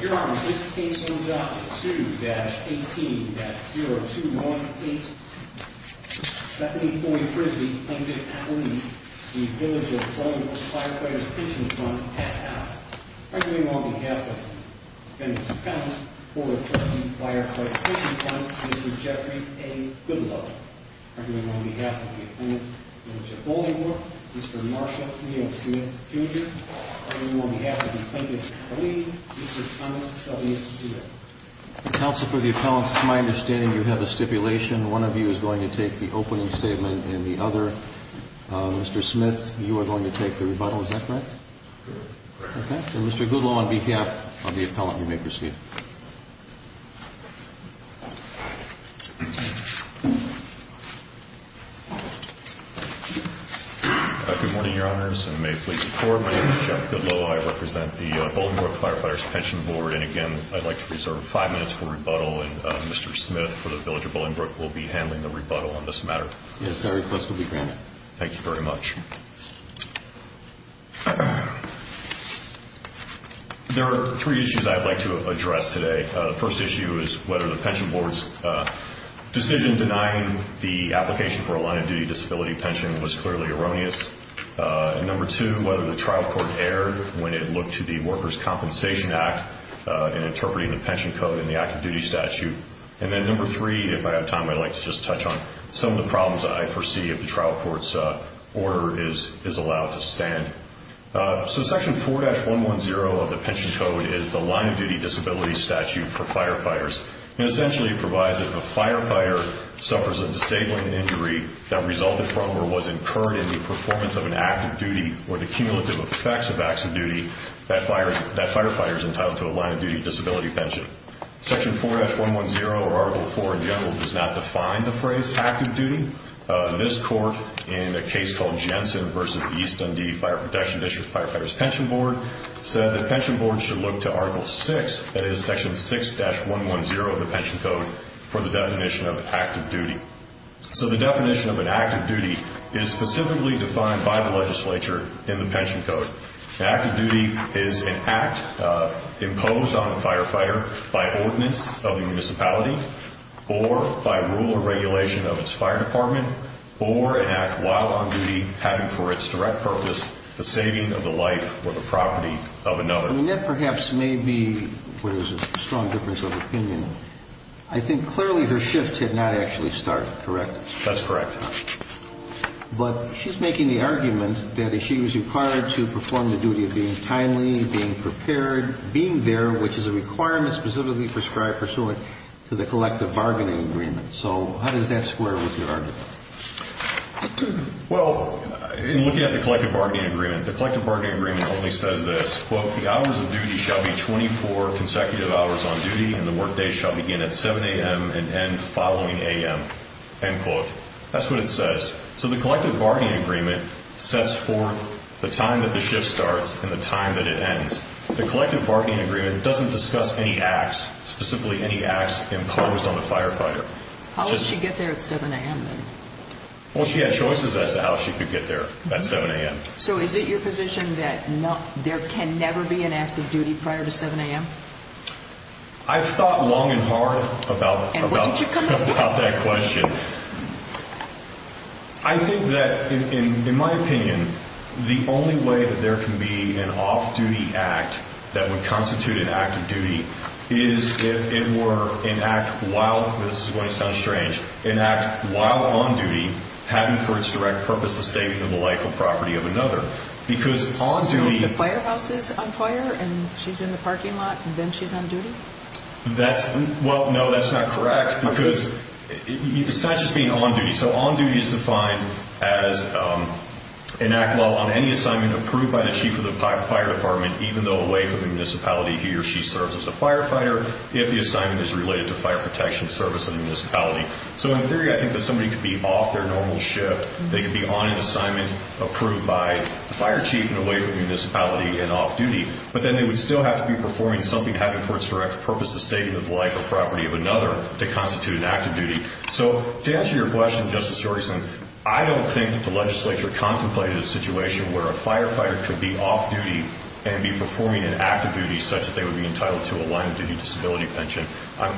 Here on this case number 2-18-0298, Bethany Floyd Frisby, plaintiff at lease, v. Village of Bolingbrook Firefighters' Pension Fund, pass out. Arguing on behalf of Mr. Dennis Pence, 413 Firefighters' Pension Fund, Mr. Jeffrey A. Goodlove. Arguing on behalf of the plaintiff, Village of Bolingbrook, Mr. Marshall Neal Smith, Jr. Arguing on behalf of the plaintiff, Lee, Mr. Thomas W. Stewart. Counsel for the appellants, it's my understanding you have a stipulation. One of you is going to take the opening statement and the other, Mr. Smith, you are going to take the rebuttal. Is that correct? Correct. Okay. Mr. Goodlove, on behalf of the appellant, you may proceed. Good morning, your honors, and may it please the court. My name is Jeffrey Goodlove. I represent the Bolingbrook Firefighters' Pension Board, and again, I'd like to reserve five minutes for rebuttal, and Mr. Smith for the Village of Bolingbrook will be handling the rebuttal on this matter. Yes, that request will be granted. Thank you very much. Thank you. There are three issues I'd like to address today. The first issue is whether the pension board's decision denying the application for a line-of-duty disability pension was clearly erroneous. And number two, whether the trial court erred when it looked to the Workers' Compensation Act in interpreting the pension code in the active duty statute. And then number three, if I have time, I'd like to just touch on some of the problems I foresee if the trial court's order is allowed to stand. So section 4-110 of the pension code is the line-of-duty disability statute for firefighters, and essentially it provides that if a firefighter suffers a disabling injury that resulted from or was incurred in the performance of an active duty or the cumulative effects of active duty, that firefighter is entitled to a line-of-duty disability pension. Section 4-110 or Article 4 in general does not define the phrase active duty. This court, in a case called Jensen v. East Dundee Fire Protection District Firefighters Pension Board, said the pension board should look to Article 6, that is Section 6-110 of the pension code, for the definition of active duty. So the definition of an active duty is specifically defined by the legislature in the pension code. An active duty is an act imposed on the firefighter by ordinance of the municipality or by rule or regulation of its fire department or an act while on duty having for its direct purpose the saving of the life or the property of another. And that perhaps may be where there's a strong difference of opinion. I think clearly her shift had not actually started, correct? That's correct. But she's making the argument that she was required to perform the duty of being timely, being prepared, being there, which is a requirement specifically prescribed pursuant to the collective bargaining agreement. So how does that square with your argument? Well, in looking at the collective bargaining agreement, the collective bargaining agreement only says this, quote, the hours of duty shall be 24 consecutive hours on duty and the workday shall begin at 7 a.m. and end following a.m., end quote. That's what it says. So the collective bargaining agreement sets forth the time that the shift starts and the time that it ends. The collective bargaining agreement doesn't discuss any acts, specifically any acts imposed on the firefighter. How did she get there at 7 a.m. then? Well, she had choices as to how she could get there at 7 a.m. So is it your position that there can never be an active duty prior to 7 a.m.? I've thought long and hard about that question. I think that, in my opinion, the only way that there can be an off-duty act that would constitute an active duty is if it were an act while, this is going to sound strange, an act while on duty having for its direct purpose the saving of the life and property of another. Because on duty. The firehouse is on fire and she's in the parking lot and then she's on duty? Well, no, that's not correct because it's not just being on duty. So on duty is defined as an act while on any assignment approved by the chief of the fire department even though away from the municipality he or she serves as a firefighter if the assignment is related to fire protection service in the municipality. So in theory, I think that somebody could be off their normal shift. They could be on an assignment approved by the fire chief and away from the municipality and off-duty, but then they would still have to be performing something having for its direct purpose the saving of the life and property of another to constitute an active duty. So to answer your question, Justice Jorgensen, I don't think that the legislature contemplated a situation where a firefighter could be off-duty and be performing an active duty such that they would be entitled to a line-of-duty disability pension. I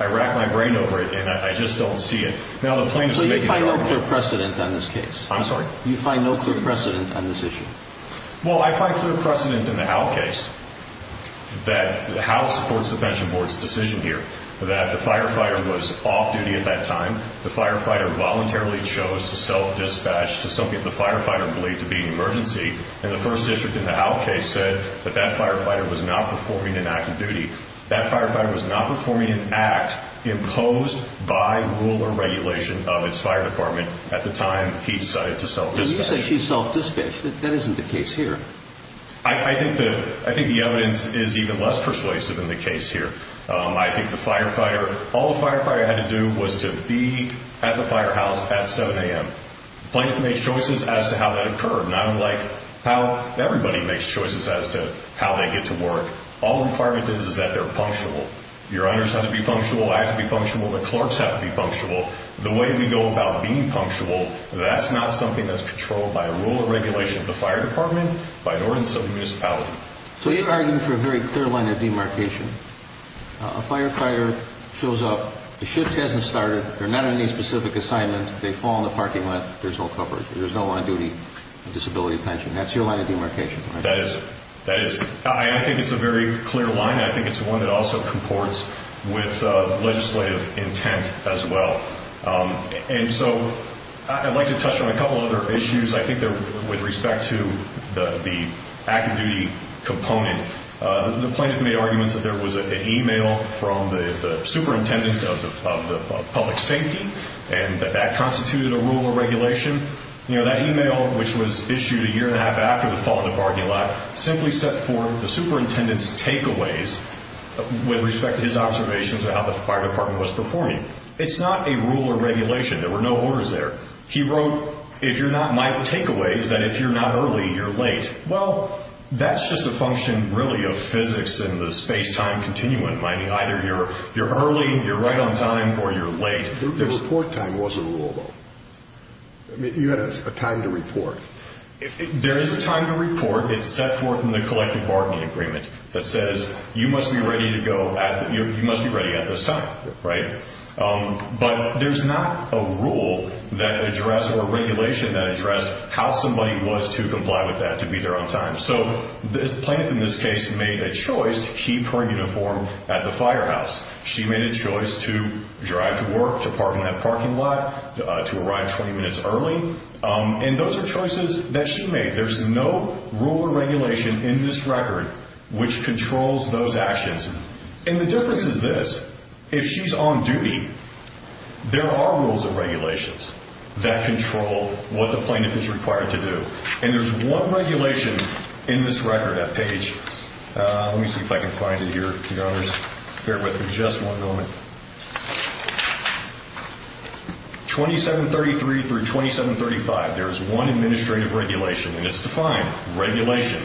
rack my brain over it and I just don't see it. So you find no clear precedent on this case? I'm sorry? You find no clear precedent on this issue? Well, I find clear precedent in the Howell case that the House supports the pension board's decision here that the firefighter was off-duty at that time. The firefighter voluntarily chose to self-dispatch to something the firefighter believed to be an emergency and the first district in the Howell case said that that firefighter was not performing an active duty. That firefighter was not performing an act imposed by rule or regulation of its fire department at the time he decided to self-dispatch. When you say she self-dispatched, that isn't the case here. I think the evidence is even less persuasive in the case here. I think the firefighter, all the firefighter had to do was to be at the firehouse at 7 a.m. Plaintiff made choices as to how that occurred, not unlike how everybody makes choices as to how they get to work. All the requirement is is that they're punctual. Your owners have to be punctual, I have to be punctual, the clerks have to be punctual. The way we go about being punctual, that's not something that's controlled by a rule or regulation of the fire department by an ordinance of the municipality. So you're arguing for a very clear line of demarcation. A firefighter shows up, the shift hasn't started, they're not on any specific assignment, they fall in the parking lot, there's no coverage, there's no on-duty disability pension. That's your line of demarcation, right? I think it's a very clear line. I think it's one that also comports with legislative intent as well. And so I'd like to touch on a couple other issues. I think with respect to the active duty component, the plaintiff made arguments that there was an email from the superintendent of public safety and that that constituted a rule or regulation. You know, that email, which was issued a year and a half after the fall in the parking lot, simply set forth the superintendent's takeaways with respect to his observations of how the fire department was performing. It's not a rule or regulation. There were no orders there. He wrote, if you're not, my takeaway is that if you're not early, you're late. Well, that's just a function, really, of physics and the space-time continuum. Either you're early, you're right on time, or you're late. The report time was a rule, though. You had a time to report. There is a time to report. It's set forth in the collective bargaining agreement that says you must be ready at this time, right? But there's not a rule that addressed or a regulation that addressed how somebody was to comply with that, to be there on time. So the plaintiff in this case made a choice to keep her uniform at the firehouse. She made a choice to drive to work, to park in that parking lot, to arrive 20 minutes early. And those are choices that she made. There's no rule or regulation in this record which controls those actions. And the difference is this. If she's on duty, there are rules and regulations that control what the plaintiff is required to do. And there's one regulation in this record at Page. Let me see if I can find it here. Your Honors, bear with me just one moment. 2733 through 2735, there is one administrative regulation, and it's defined, regulation.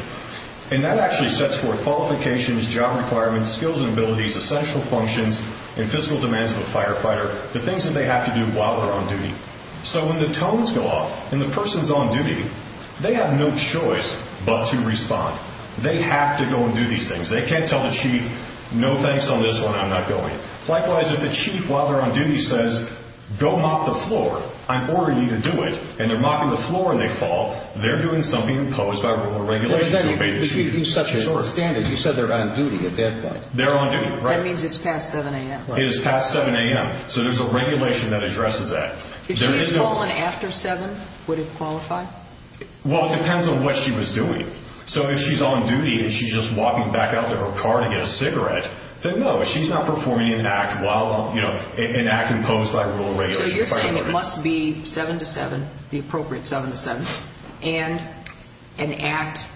And that actually sets forth qualifications, job requirements, skills and abilities, essential functions, and physical demands of a firefighter, the things that they have to do while they're on duty. So when the tones go off and the person's on duty, they have no choice but to respond. They have to go and do these things. They can't tell the chief, no, thanks on this one, I'm not going. Likewise, if the chief, while they're on duty, says, go mop the floor, I'm ordering you to do it, and they're mopping the floor and they fall, they're doing something imposed by rule or regulation to obey the chief. But you set the standard. You said they're on duty at that point. They're on duty. That means it's past 7 a.m. It is past 7 a.m. So there's a regulation that addresses that. If she had fallen after 7, would it qualify? Well, it depends on what she was doing. So if she's on duty and she's just walking back out to her car to get a cigarette, then no, she's not performing an act imposed by rule or regulation. So you're saying it must be 7 to 7, the appropriate 7 to 7, and an act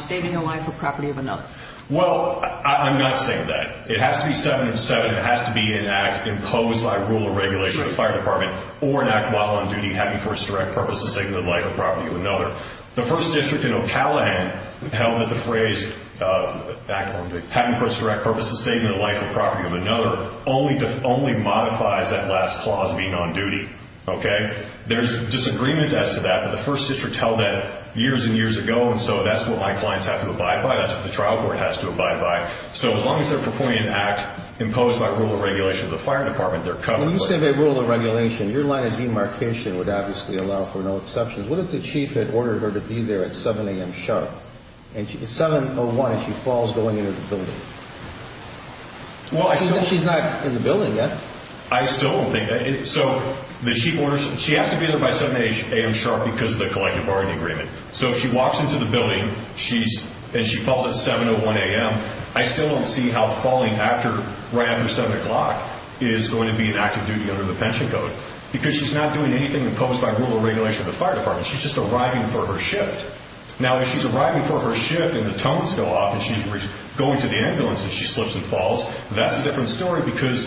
saving the life or property of another. Well, I'm not saying that. It has to be 7 of 7. It has to be an act imposed by rule or regulation of the fire department or an act while on duty having for its direct purpose of saving the life or property of another. The 1st District in Ocalahan held that the phrase having for its direct purpose of saving the life or property of another only modifies that last clause being on duty. Okay? There's disagreement as to that. But the 1st District held that years and years ago, and so that's what my clients have to abide by. That's what the trial court has to abide by. So as long as they're performing an act imposed by rule or regulation of the fire department, they're covered. When you say by rule or regulation, your line of demarcation would obviously allow for no exceptions. What if the chief had ordered her to be there at 7 a.m. sharp? And it's 7.01, and she falls going into the building. Well, I still think she's not in the building yet. I still don't think that. So the chief orders her. She has to be there by 7 a.m. sharp because of the collective bargaining agreement. So if she walks into the building and she falls at 7.01 a.m., I still don't see how falling right after 7 o'clock is going to be an act of duty under the pension code because she's not doing anything imposed by rule or regulation of the fire department. She's just arriving for her shift. Now, if she's arriving for her shift and the tones go off and she's going to the ambulance and she slips and falls, that's a different story because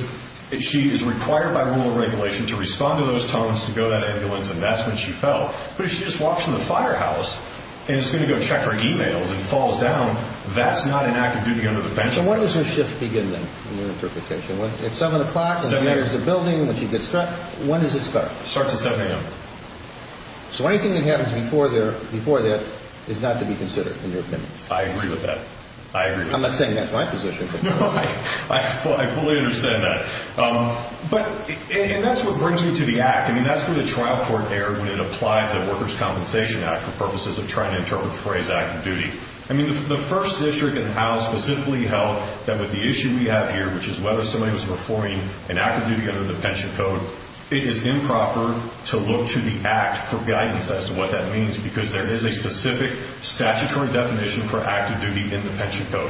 she is required by rule or regulation to respond to those tones to go to that ambulance, and that's when she fell. But if she just walks from the firehouse and is going to go check her e-mails and falls down, that's not an act of duty under the pension code. So when does her shift begin, then, in your interpretation? If 7 o'clock and she enters the building and she gets struck, when does it start? It starts at 7 a.m. So anything that happens before that is not to be considered, in your opinion? I agree with that. I agree with that. I'm not saying that's my position. No, I fully understand that. And that's what brings me to the act. I mean, that's where the trial court erred when it applied the Workers' Compensation Act for purposes of trying to interpret the phrase act of duty. I mean, the first district in the House specifically held that with the issue we have here, which is whether somebody was performing an act of duty under the pension code, it is improper to look to the act for guidance as to what that means because there is a specific statutory definition for act of duty in the pension code.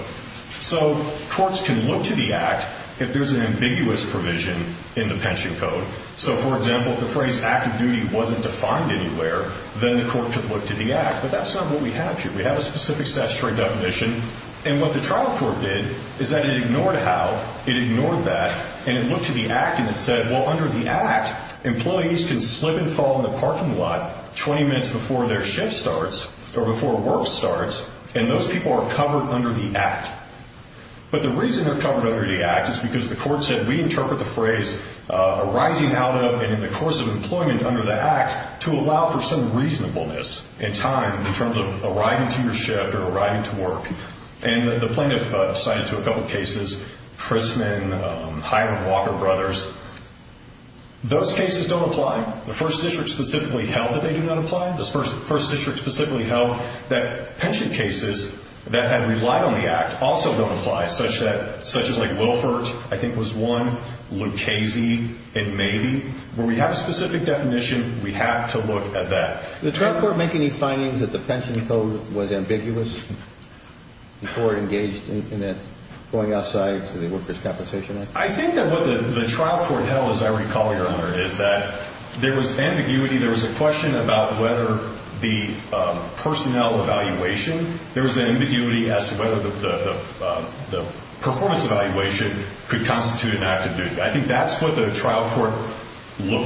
So courts can look to the act if there's an ambiguous provision in the pension code. So, for example, if the phrase act of duty wasn't defined anywhere, then the court could look to the act. But that's not what we have here. We have a specific statutory definition. And what the trial court did is that it ignored how, it ignored that, and it looked to the act and it said, well, under the act, employees can slip and fall in the parking lot 20 minutes before their shift starts or before work starts, and those people are covered under the act. But the reason they're covered under the act is because the court said, we interpret the phrase arising out of and in the course of employment under the act to allow for some reasonableness in time in terms of arriving to your shift or arriving to work. And the plaintiff cited to a couple cases, Chrisman, Hyman Walker Brothers. Those cases don't apply. The first district specifically held that they do not apply. The first district specifically held that pension cases that had relied on the act also don't apply, such as, like, Wilford, I think was one, Lucchese, and maybe. Where we have a specific definition, we have to look at that. Did the trial court make any findings that the pension code was ambiguous before it engaged in it going outside to the workers' compensation act? I think that what the trial court held, as I recall, Your Honor, is that there was ambiguity. There was a question about whether the personnel evaluation, there was an ambiguity as to whether the performance evaluation could constitute an act of duty. I think that's what the trial court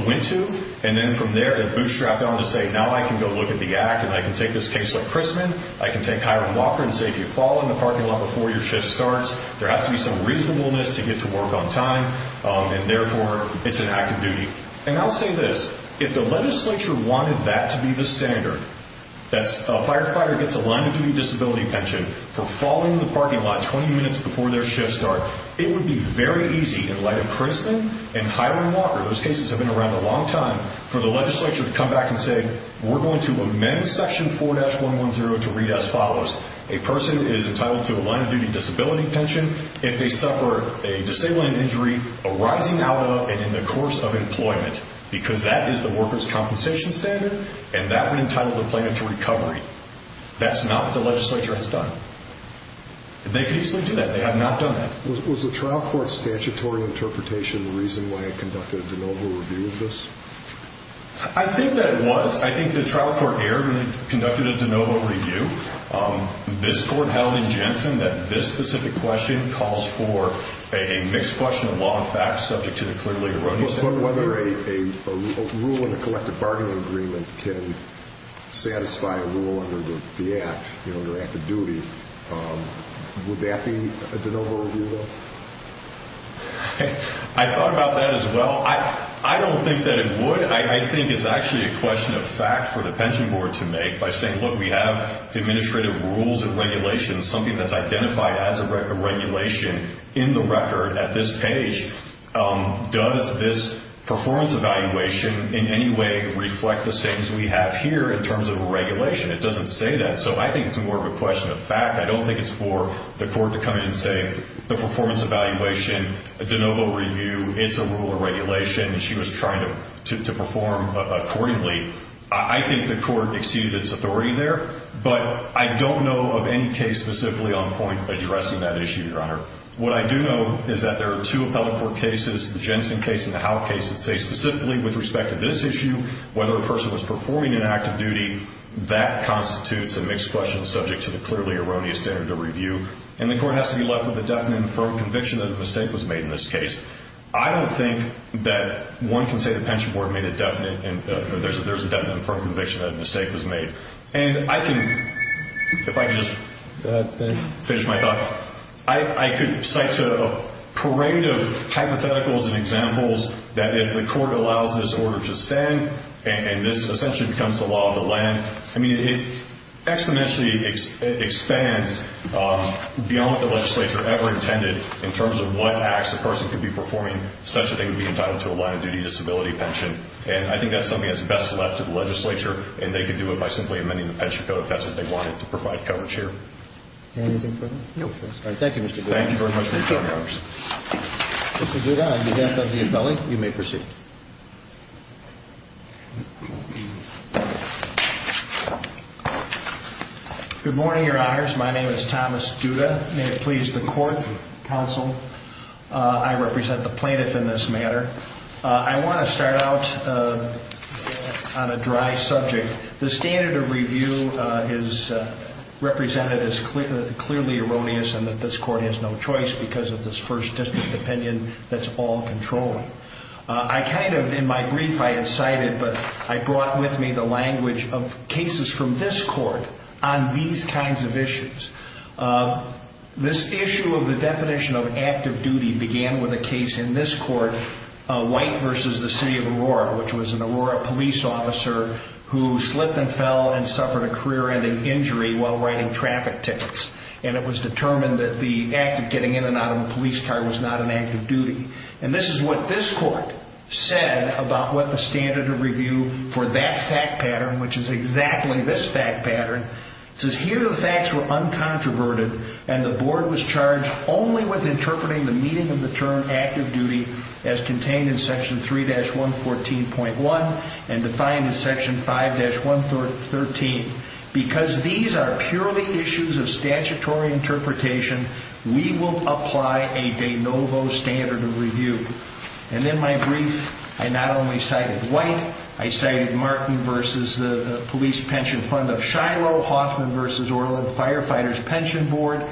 went to, and then from there it bootstrapped on to say, now I can go look at the act and I can take this case like Chrisman, I can take Hyman Walker and say, if you fall in the parking lot before your shift starts, there has to be some reasonableness to get to work on time, and therefore it's an act of duty. And I'll say this. If the legislature wanted that to be the standard, that a firefighter gets a line-of-duty disability pension for falling in the parking lot 20 minutes before their shift starts, it would be very easy in light of Chrisman and Hyman Walker. Those cases have been around a long time, for the legislature to come back and say, we're going to amend section 4-110 to read as follows. A person is entitled to a line-of-duty disability pension if they suffer a disabling injury arising out of and in the course of employment, because that is the worker's compensation standard, and that would entitle the plaintiff to recovery. That's not what the legislature has done. They could easily do that. They have not done that. Was the trial court's statutory interpretation the reason why it conducted a de novo review of this? I think that it was. I think the trial court here conducted a de novo review. This court held in Jensen that this specific question calls for a mixed question of law and facts, subject to the clearly erroneous interpretation. But whether a rule in a collective bargaining agreement can satisfy a rule under the act, you know, under act of duty, would that be a de novo review, though? I thought about that as well. I don't think that it would. I think it's actually a question of fact for the pension board to make by saying, look, we have administrative rules and regulations, something that's identified as a regulation in the record at this page. Does this performance evaluation in any way reflect the things we have here in terms of a regulation? It doesn't say that. So I think it's more of a question of fact. I don't think it's for the court to come in and say the performance evaluation, a de novo review, it's a rule or regulation, and she was trying to perform accordingly. I think the court exceeded its authority there. But I don't know of any case specifically on point addressing that issue, Your Honor. What I do know is that there are two appellate court cases, the Jensen case and the Howell case, that say specifically with respect to this issue, whether a person was performing an act of duty, that constitutes a mixed question subject to the clearly erroneous standard of review, and the court has to be left with a definite and firm conviction that a mistake was made in this case. I don't think that one can say the pension board made a definite and there's a definite and firm conviction that a mistake was made. And I can, if I could just finish my thought, I could cite a parade of hypotheticals and examples that if the court allows this order to stand, and this essentially becomes the law of the land, I mean, it exponentially expands beyond what the legislature ever intended in terms of what acts a person could be performing, such that they would be entitled to a line of duty disability pension. And I think that's something that's best left to the legislature, and they could do it by simply amending the pension code if that's what they wanted to provide coverage here. Anything further? No. All right. Thank you, Mr. Duda. Thank you very much for your time, Your Honor. Mr. Duda, on behalf of the appellate, you may proceed. Good morning, Your Honors. My name is Thomas Duda. May it please the court, counsel. I represent the plaintiff in this matter. I want to start out on a dry subject. The standard of review is represented as clearly erroneous and that this court has no choice because of this first district opinion that's all controlling. I kind of, in my brief, I had cited, but I brought with me the language of cases from this court on these kinds of issues. This issue of the definition of active duty began with a case in this court, White v. The City of Aurora, which was an Aurora police officer who slipped and fell and suffered a career-ending injury while riding traffic tickets. And it was determined that the act of getting in and out of the police car was not an act of duty. And this is what this court said about what the standard of review for that fact pattern, which is exactly this fact pattern, says here the facts were uncontroverted and the board was charged only with interpreting the meaning of the term active duty as contained in Section 3-114.1 and defined in Section 5-113. Because these are purely issues of statutory interpretation, we will apply a de novo standard of review. And in my brief, I not only cited White, I cited Martin v. The Police Pension Fund of Shiloh, Hoffman v. Orland Firefighters Pension Board.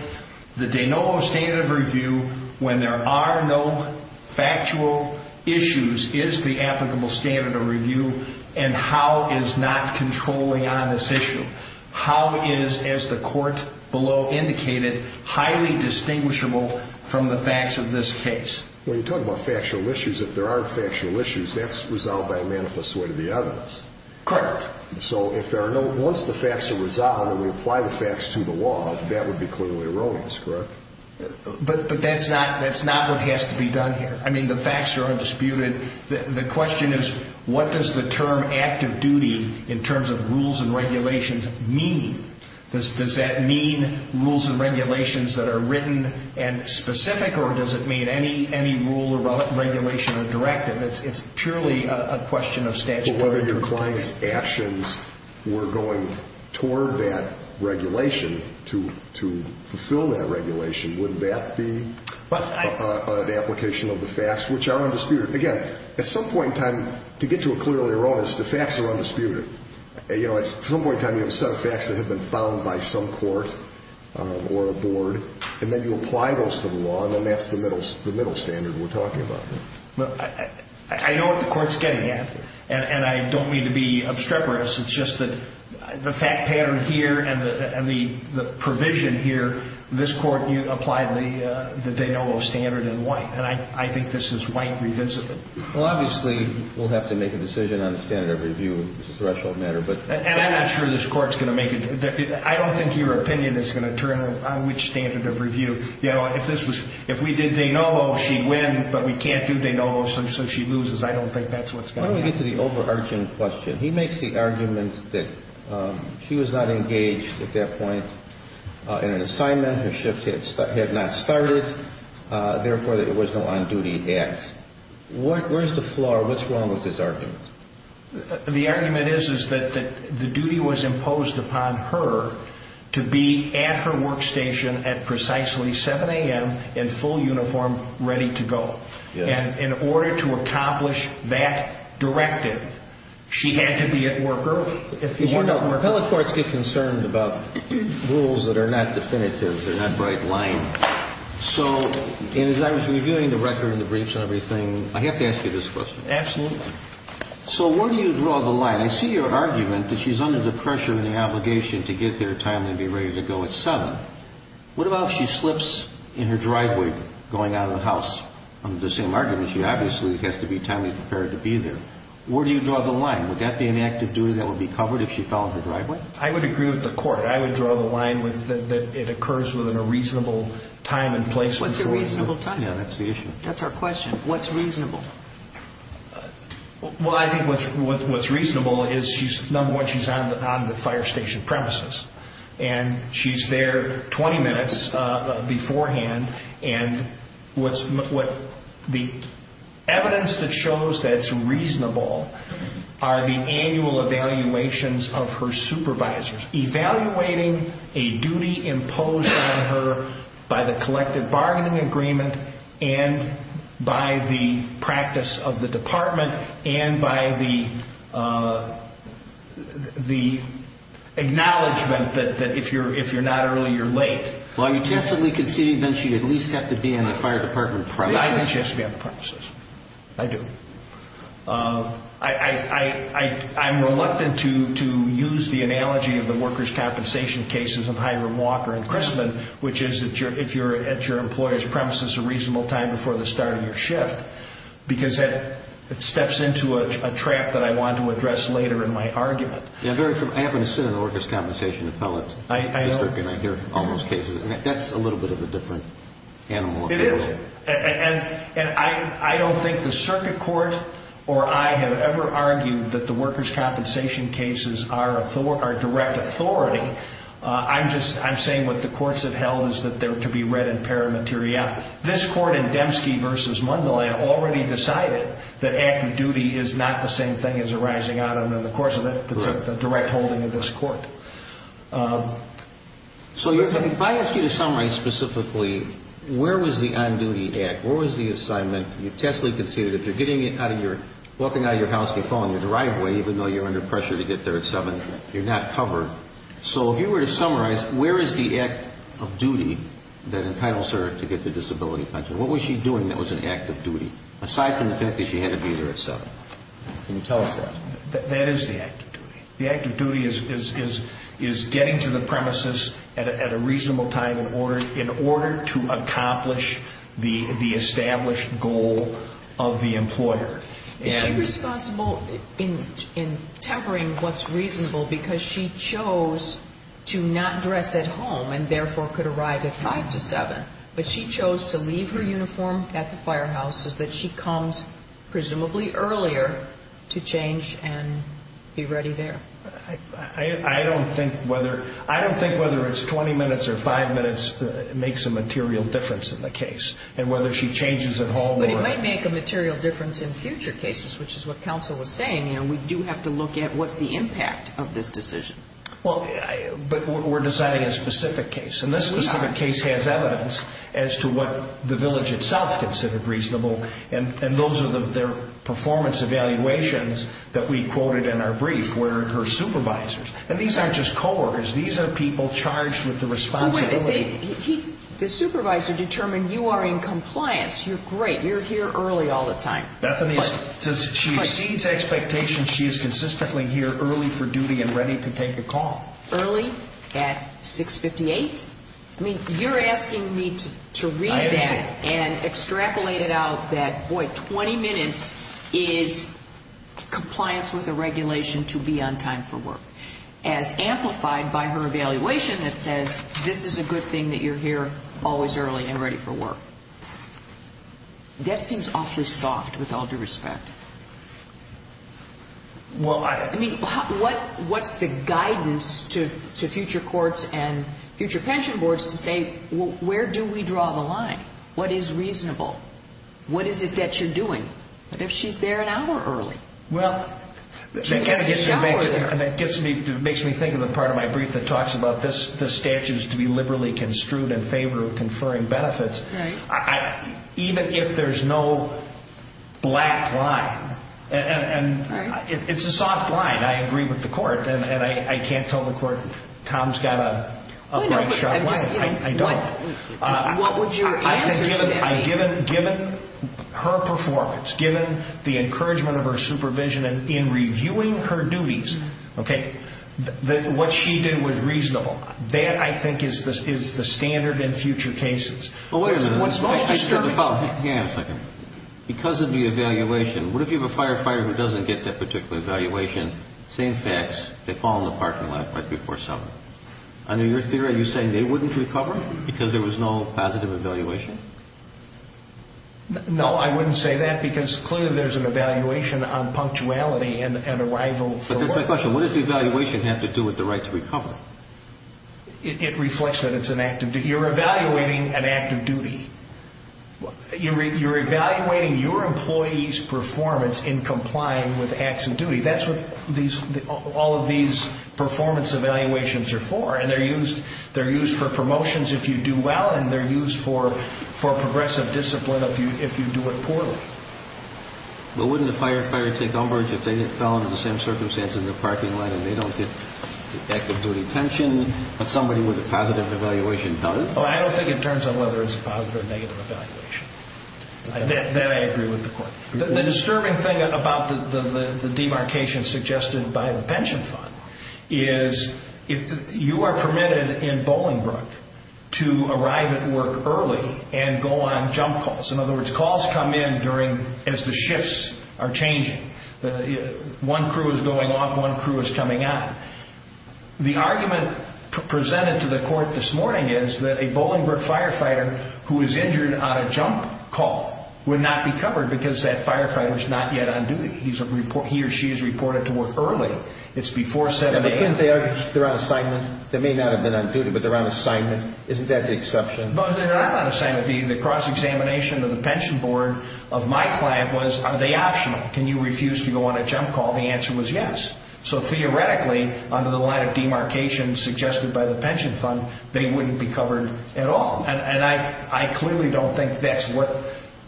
The de novo standard of review, when there are no factual issues, is the applicable standard of review and how is not controlling on this issue. How is, as the court below indicated, highly distinguishable from the facts of this case? When you talk about factual issues, if there are factual issues, that's resolved by a manifest way to the evidence. Correct. So once the facts are resolved and we apply the facts to the law, that would be clearly erroneous, correct? But that's not what has to be done here. I mean, the facts are undisputed. The question is what does the term active duty, in terms of rules and regulations, mean? Does that mean rules and regulations that are written and specific or does it mean any rule or regulation or directive? It's purely a question of statutory interpretation. Well, whether your client's actions were going toward that regulation to fulfill that regulation, would that be an application of the facts which are undisputed? Again, at some point in time, to get to a clearer erroneous, the facts are undisputed. You know, at some point in time, you have a set of facts that have been found by some court or a board, and then you apply those to the law, and then that's the middle standard we're talking about here. I know what the Court's getting at, and I don't mean to be obstreperous. It's just that the fact pattern here and the provision here, this Court applied the de novo standard in white, and I think this is white revisited. Well, obviously, we'll have to make a decision on the standard of review, which is a threshold matter. And I'm not sure this Court's going to make it. I don't think your opinion is going to turn on which standard of review. You know, if we did de novo, she'd win, but we can't do de novo, so she loses. I don't think that's what's going to happen. Let me get to the overarching question. He makes the argument that she was not engaged at that point in an assignment. Her shift had not started. Therefore, there was no on-duty act. Where's the flaw? What's wrong with his argument? The argument is that the duty was imposed upon her to be at her workstation at precisely 7 a.m. in full uniform, ready to go. And in order to accomplish that directive, she had to be at work early. If you're not working. The appellate courts get concerned about rules that are not definitive. They're not bright-lined. And as I was reviewing the record and the briefs and everything, I have to ask you this question. Absolutely. So where do you draw the line? I see your argument that she's under the pressure and the obligation to get there timely and be ready to go at 7. What about if she slips in her driveway going out of the house? Under the same argument, she obviously has to be timely prepared to be there. Where do you draw the line? Would that be an act of duty that would be covered if she fell in her driveway? I would agree with the Court. I would draw the line that it occurs within a reasonable time and place. What's a reasonable time? Yeah, that's the issue. That's our question. What's reasonable? Well, I think what's reasonable is, number one, she's on the fire station premises. And she's there 20 minutes beforehand. And the evidence that shows that it's reasonable are the annual evaluations of her supervisors. Evaluating a duty imposed on her by the collective bargaining agreement and by the practice of the department and by the acknowledgment that if you're not early, you're late. Well, are you tentatively conceding that she at least has to be on the fire department premises? I think she has to be on the premises. I do. I'm reluctant to use the analogy of the workers' compensation cases of Hiram Walker and Christman, which is if you're at your employer's premises a reasonable time before the start of your shift because it steps into a trap that I want to address later in my argument. I happen to sit in the workers' compensation appellate district, and I hear all those cases. That's a little bit of a different animal. It is. And I don't think the circuit court or I have ever argued that the workers' compensation cases are direct authority. I'm saying what the courts have held is that they're to be read in paramateria. This court in Dembski v. Mundele already decided that active duty is not the same thing as a rising out of it. Of course, it's a direct holding of this court. So if I ask you to summarize specifically, where was the on-duty act? Where was the assignment? You've tactfully conceded that if you're walking out of your house, you're following the driveway even though you're under pressure to get there at 7, you're not covered. So if you were to summarize, where is the act of duty that entitles her to get the disability pension? What was she doing that was an act of duty aside from the fact that she had to be there at 7? Can you tell us that? That is the act of duty. The act of duty is getting to the premises at a reasonable time in order to accomplish the established goal of the employer. Is she responsible in tempering what's reasonable because she chose to not dress at home and therefore could arrive at 5 to 7, but she chose to leave her uniform at the firehouse is that she comes presumably earlier to change and be ready there? I don't think whether it's 20 minutes or 5 minutes makes a material difference in the case. And whether she changes at home or... But it might make a material difference in future cases, which is what counsel was saying. We do have to look at what's the impact of this decision. But we're deciding a specific case. And this specific case has evidence as to what the village itself considered reasonable. And those are their performance evaluations that we quoted in our brief where her supervisors. And these aren't just co-workers. These are people charged with the responsibility. Wait a minute. The supervisor determined you are in compliance. You're great. You're here early all the time. Bethany says she exceeds expectations. She is consistently here early for duty and ready to take a call. Early at 6.58? I mean, you're asking me to read that and extrapolate it out that, boy, 20 minutes is compliance with a regulation to be on time for work. As amplified by her evaluation that says, this is a good thing that you're here always early and ready for work. That seems awfully soft with all due respect. I mean, what's the guidance to future courts and future pension boards to say, where do we draw the line? What is reasonable? What is it that you're doing? What if she's there an hour early? Well, that kind of gets me thinking of the part of my brief that talks about this statute is to be liberally construed in favor of conferring benefits. Even if there's no black line, and it's a soft line. I agree with the court, and I can't tell the court Tom's got a bright shot line. I don't. What would your answer to that be? Given her performance, given the encouragement of her supervision in reviewing her duties, what she did was reasonable. That, I think, is the standard in future cases. Wait a minute. Hang on a second. Because of the evaluation, what if you have a firefighter who doesn't get that particular evaluation, same facts, they fall in the parking lot right before summer? Under your theory, are you saying they wouldn't recover because there was no positive evaluation? No, I wouldn't say that because clearly there's an evaluation on punctuality and arrival for work. But that's my question. What does the evaluation have to do with the right to recover? It reflects that it's an act of duty. You're evaluating an act of duty. You're evaluating your employee's performance in complying with acts of duty. That's what all of these performance evaluations are for, and they're used for promotions if you do well, and they're used for progressive discipline if you do it poorly. But wouldn't a firefighter take umbrage if they fell under the same circumstances in the parking lot and they don't get the act of duty pension that somebody with a positive evaluation does? Oh, I don't think it turns on whether it's a positive or negative evaluation. That I agree with the court. The disturbing thing about the demarcation suggested by the pension fund is you are permitted in Bolingbroke to arrive at work early and go on jump calls. In other words, calls come in during as the shifts are changing. One crew is going off, one crew is coming on. The argument presented to the court this morning is that a Bolingbroke firefighter who is injured on a jump call would not be covered because that firefighter is not yet on duty. He or she is reported to work early. It's before 7 a.m. But couldn't they already be on assignment? They may not have been on duty, but they're on assignment. Isn't that the exception? They're not on assignment. The cross-examination of the pension board of my client was, are they optional? Can you refuse to go on a jump call? The answer was yes. So theoretically, under the line of demarcation suggested by the pension fund, they wouldn't be covered at all. And I clearly don't think that's what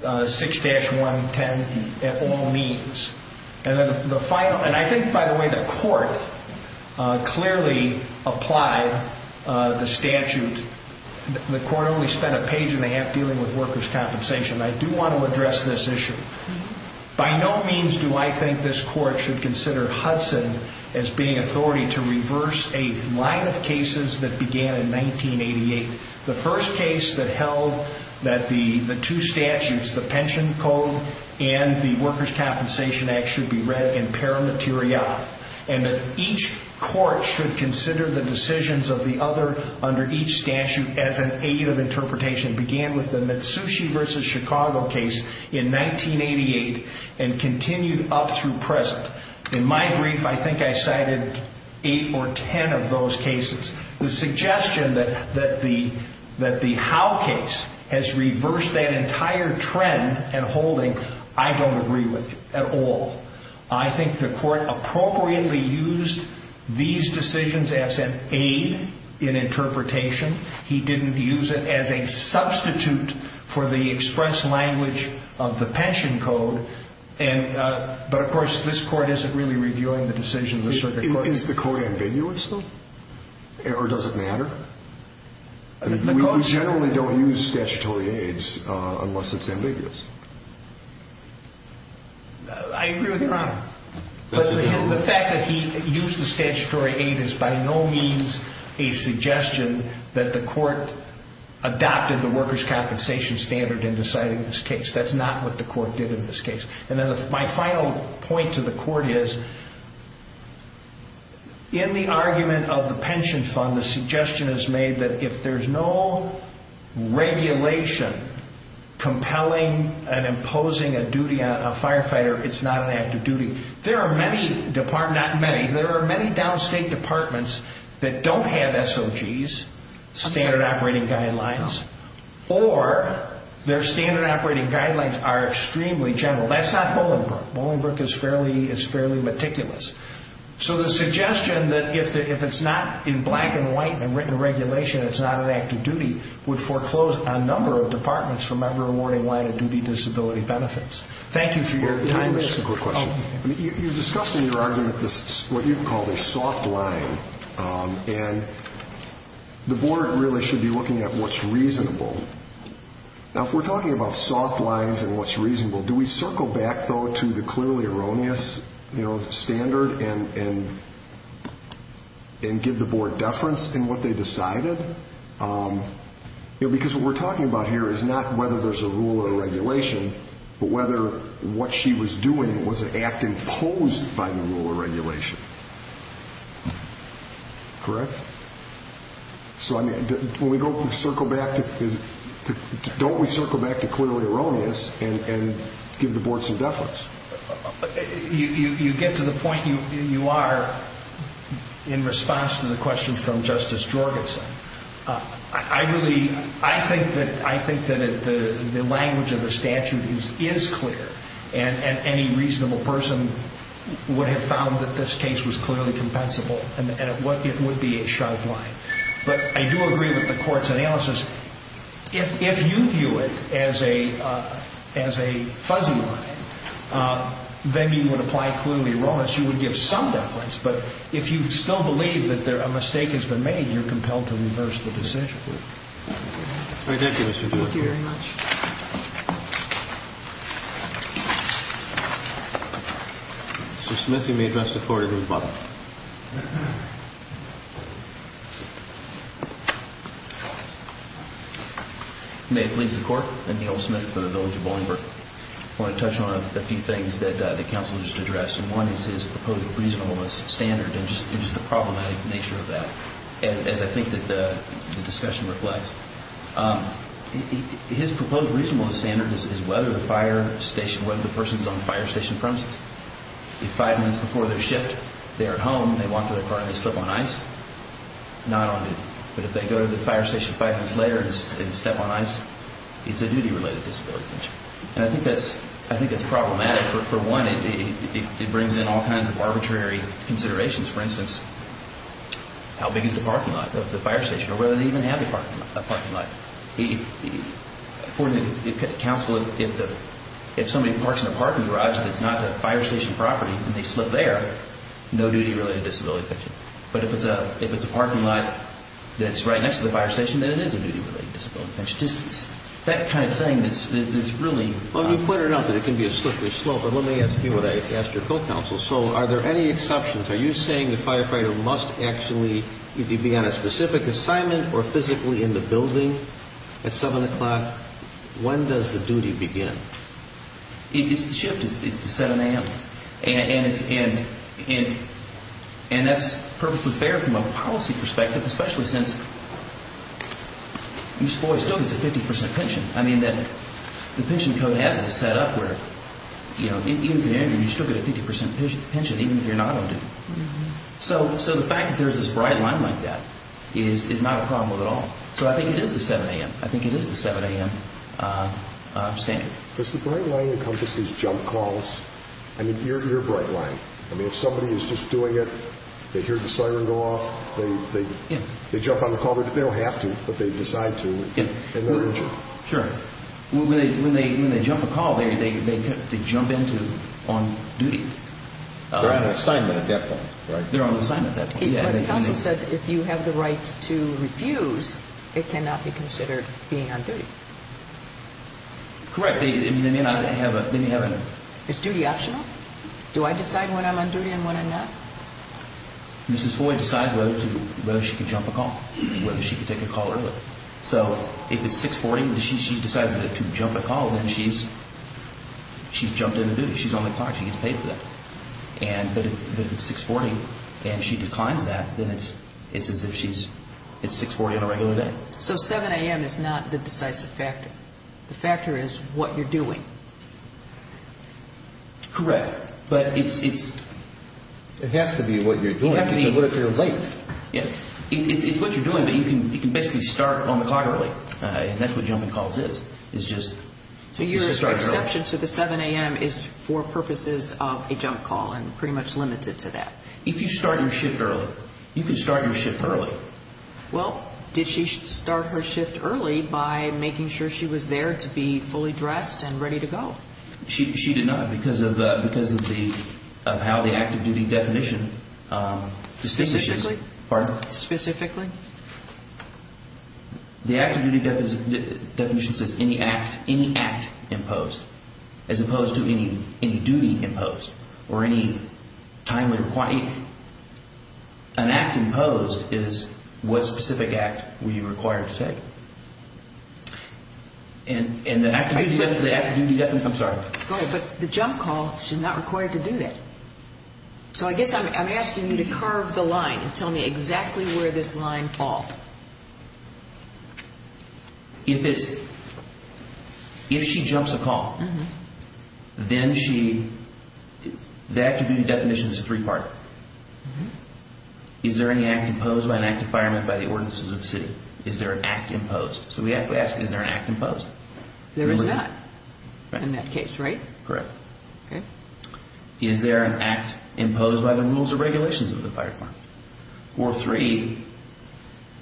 6-110 at all means. And I think, by the way, the court clearly applied the statute. The court only spent a page and a half dealing with workers' compensation. I do want to address this issue. By no means do I think this court should consider Hudson as being authority to reverse a line of cases that began in 1988. The first case that held that the two statutes, the pension code and the Workers' Compensation Act, should be read in paramateria and that each court should consider the decisions of the other under each statute as an aid of interpretation began with the Mitsushi v. Chicago case in 1988 and continued up through present. In my brief, I think I cited eight or ten of those cases. The suggestion that the Howe case has reversed that entire trend and holding, I don't agree with at all. I think the court appropriately used these decisions as an aid in interpretation. He didn't use it as a substitute for the express language of the pension code. But, of course, this court isn't really reviewing the decisions of the circuit court. Is the code ambiguous, though? Or does it matter? We generally don't use statutory aids unless it's ambiguous. I agree with you, Your Honor. The fact that he used the statutory aid is by no means a suggestion that the court adopted the workers' compensation standard in deciding this case. That's not what the court did in this case. My final point to the court is, in the argument of the pension fund, the suggestion is made that if there's no regulation compelling and imposing a duty on a firefighter, it's not an active duty. There are many downstate departments that don't have SOGs, standard operating guidelines, or their standard operating guidelines are extremely general. That's not Bolingbroke. Bolingbroke is fairly meticulous. So the suggestion that if it's not in black and white and written regulation, it's not an active duty, would foreclose a number of departments from ever awarding line-of-duty disability benefits. Thank you for your time. Let me ask you a quick question. You discussed in your argument what you called a soft line, and the board really should be looking at what's reasonable. Now, if we're talking about soft lines and what's reasonable, do we circle back, though, to the clearly erroneous standard and give the board deference in what they decided? Because what we're talking about here is not whether there's a rule or regulation, but whether what she was doing was an act imposed by the rule or regulation. Correct? So when we go to circle back, don't we circle back to clearly erroneous and give the board some deference? You get to the point you are in response to the question from Justice Jorgensen. I think that the language of the statute is clear, and any reasonable person would have found that this case was clearly compensable, and it would be a sharp line. But I do agree with the Court's analysis. If you view it as a fuzzy line, then you would apply clearly erroneous. You would give some deference. But if you still believe that a mistake has been made, you're compelled to reverse the decision. All right. Thank you, Mr. Doolittle. Thank you very much. Mr. Smith, you may address the floor. You're good to go. May it please the Court. I'm Neal Smith from the Village of Bolingbroke. I want to touch on a few things that the counsel just addressed, and one is his proposed reasonableness standard and just the problematic nature of that, as I think that the discussion reflects. His proposed reasonableness standard is that it's a reasonable standard is whether the person is on the fire station premises. If five minutes before their shift, they're at home, they walk to their car and they slip on ice, not on duty. But if they go to the fire station five minutes later and step on ice, it's a duty-related disability. And I think that's problematic. For one, it brings in all kinds of arbitrary considerations. For instance, how big is the parking lot of the fire station or whether they even have a parking lot. According to the counsel, if somebody parks in a parking garage that's not a fire station property and they slip there, no duty-related disability. But if it's a parking lot that's right next to the fire station, then it is a duty-related disability. That kind of thing is really... Well, you pointed out that it can be a slippery slope, but let me ask you what I asked your co-counsel. So are there any exceptions? Are you saying the firefighter must actually be on a specific assignment or physically in the building at 7 o'clock? When does the duty begin? It's the shift. It's the 7 a.m. And that's perfectly fair from a policy perspective, especially since you still get a 50% pension. I mean, the pension code has it set up where even if you're injured, you still get a 50% pension even if you're not on duty. So the fact that there's this bright line like that is not a problem at all. So I think it is the 7 a.m. I think it is the 7 a.m. standard. Does the bright line encompass these jump calls? I mean, you're a bright line. I mean, if somebody is just doing it, they hear the siren go off, they jump on the call. They don't have to, but they decide to if they're injured. Sure. When they jump a call, they jump into on duty. They're on assignment at that point, right? They're on assignment at that point. But the counsel said that if you have the right to refuse, it cannot be considered being on duty. Correct. They may not have a... Is duty optional? Do I decide when I'm on duty and when I'm not? Mrs. Floyd decides whether she can jump a call, whether she can take a call early. So if it's 6.40 and she decides to jump a call, then she's jumped into duty. She's on the clock. She gets paid for that. But if it's 6.40 and she declines that, then it's as if she's at 6.40 on a regular day. So 7 a.m. is not the decisive factor. The factor is what you're doing. Correct. But it's... It has to be what you're doing because what if you're late? It's what you're doing, but you can basically start on the clock early, and that's what jumping calls is. It's just... So your exception to the 7 a.m. is for purposes of a jump call and pretty much limited to that. If you start your shift early, you can start your shift early. Well, did she start her shift early by making sure she was there to be fully dressed and ready to go? She did not because of how the active duty definition distinguishes... Specifically? Pardon? Specifically? The active duty definition says any act imposed as opposed to any duty imposed or any time required. An act imposed is what specific act were you required to take. And the active duty definition... I'm sorry. But the jump call, she's not required to do that. So I guess I'm asking you to curve the line and tell me exactly where this line falls. If it's... If she jumps a call, then she... The active duty definition is three-part. Is there any act imposed by an active fireman by the ordinances of the city? Is there an act imposed? So we have to ask, is there an act imposed? There is not in that case, right? Correct. Okay. Is there an act imposed by the rules or regulations of the fire department? Or three,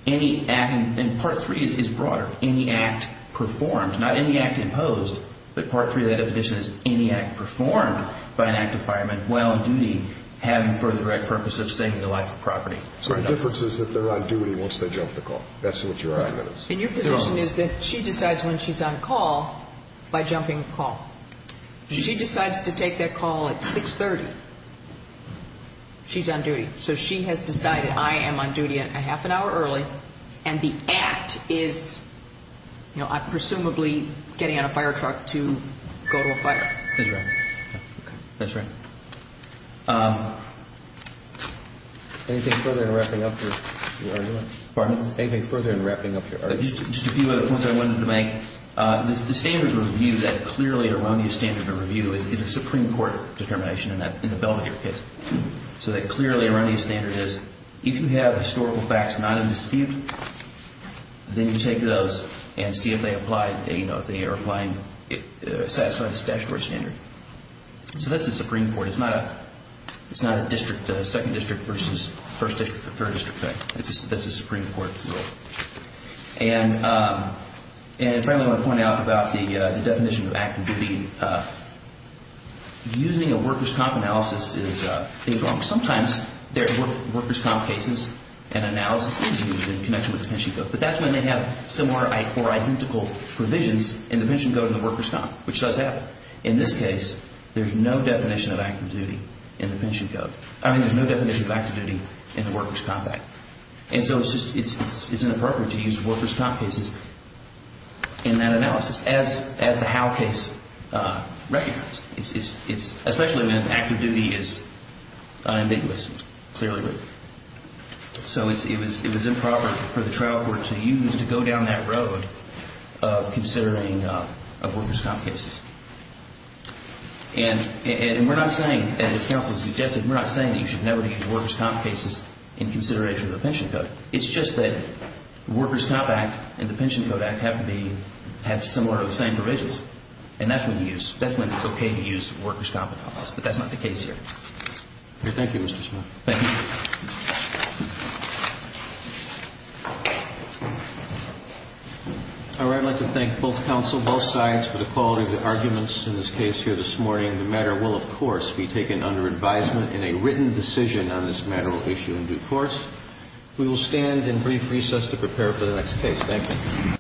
any act... And part three is broader. Any act performed, not any act imposed, but part three of that definition is any act performed by an active fireman while on duty having for the right purpose of saving the life or property. So the difference is that they're on duty once they jump the call. That's what your argument is. And your position is that she decides when she's on call by jumping the call. She decides to take that call at 630. She's on duty. So she has decided, I am on duty at a half an hour early, and the act is presumably getting on a fire truck to go to a fire. That's right. Okay. That's right. Anything further in wrapping up your argument? Pardon? Anything further in wrapping up your argument? Just a few other points I wanted to make. The standard of review, that clearly erroneous standard of review, is a Supreme Court determination in the Belmont case. So that clearly erroneous standard is if you have historical facts not in dispute, then you take those and see if they apply, you know, if they are applying, satisfy this statutory standard. So that's the Supreme Court. It's not a district, second district versus first district or third district thing. That's a Supreme Court rule. And finally, I want to point out about the definition of activity. Using a workers' comp analysis is wrong. Sometimes workers' comp cases and analysis is used in connection with the pension code. But that's when they have similar or identical provisions in the pension code and the workers' comp, which does happen. But in this case, there's no definition of active duty in the pension code. I mean, there's no definition of active duty in the workers' comp act. And so it's just, it's inappropriate to use workers' comp cases in that analysis as the Howe case recognized. It's especially when active duty is ambiguous, clearly written. So it was improper for the trial court to use to go down that road of considering workers' comp cases. And we're not saying that, as counsel suggested, we're not saying that you should never use workers' comp cases in consideration of the pension code. It's just that the workers' comp act and the pension code act have to be, have similar or the same provisions. And that's when you use, that's when it's okay to use workers' comp analysis. But that's not the case here. Thank you, Mr. Smith. Thank you. All right. I'd like to thank both counsel, both sides, for the quality of the arguments in this case here this morning. The matter will, of course, be taken under advisement in a written decision on this matter or issue in due course. We will stand and brief recess to prepare for the next case. Thank you.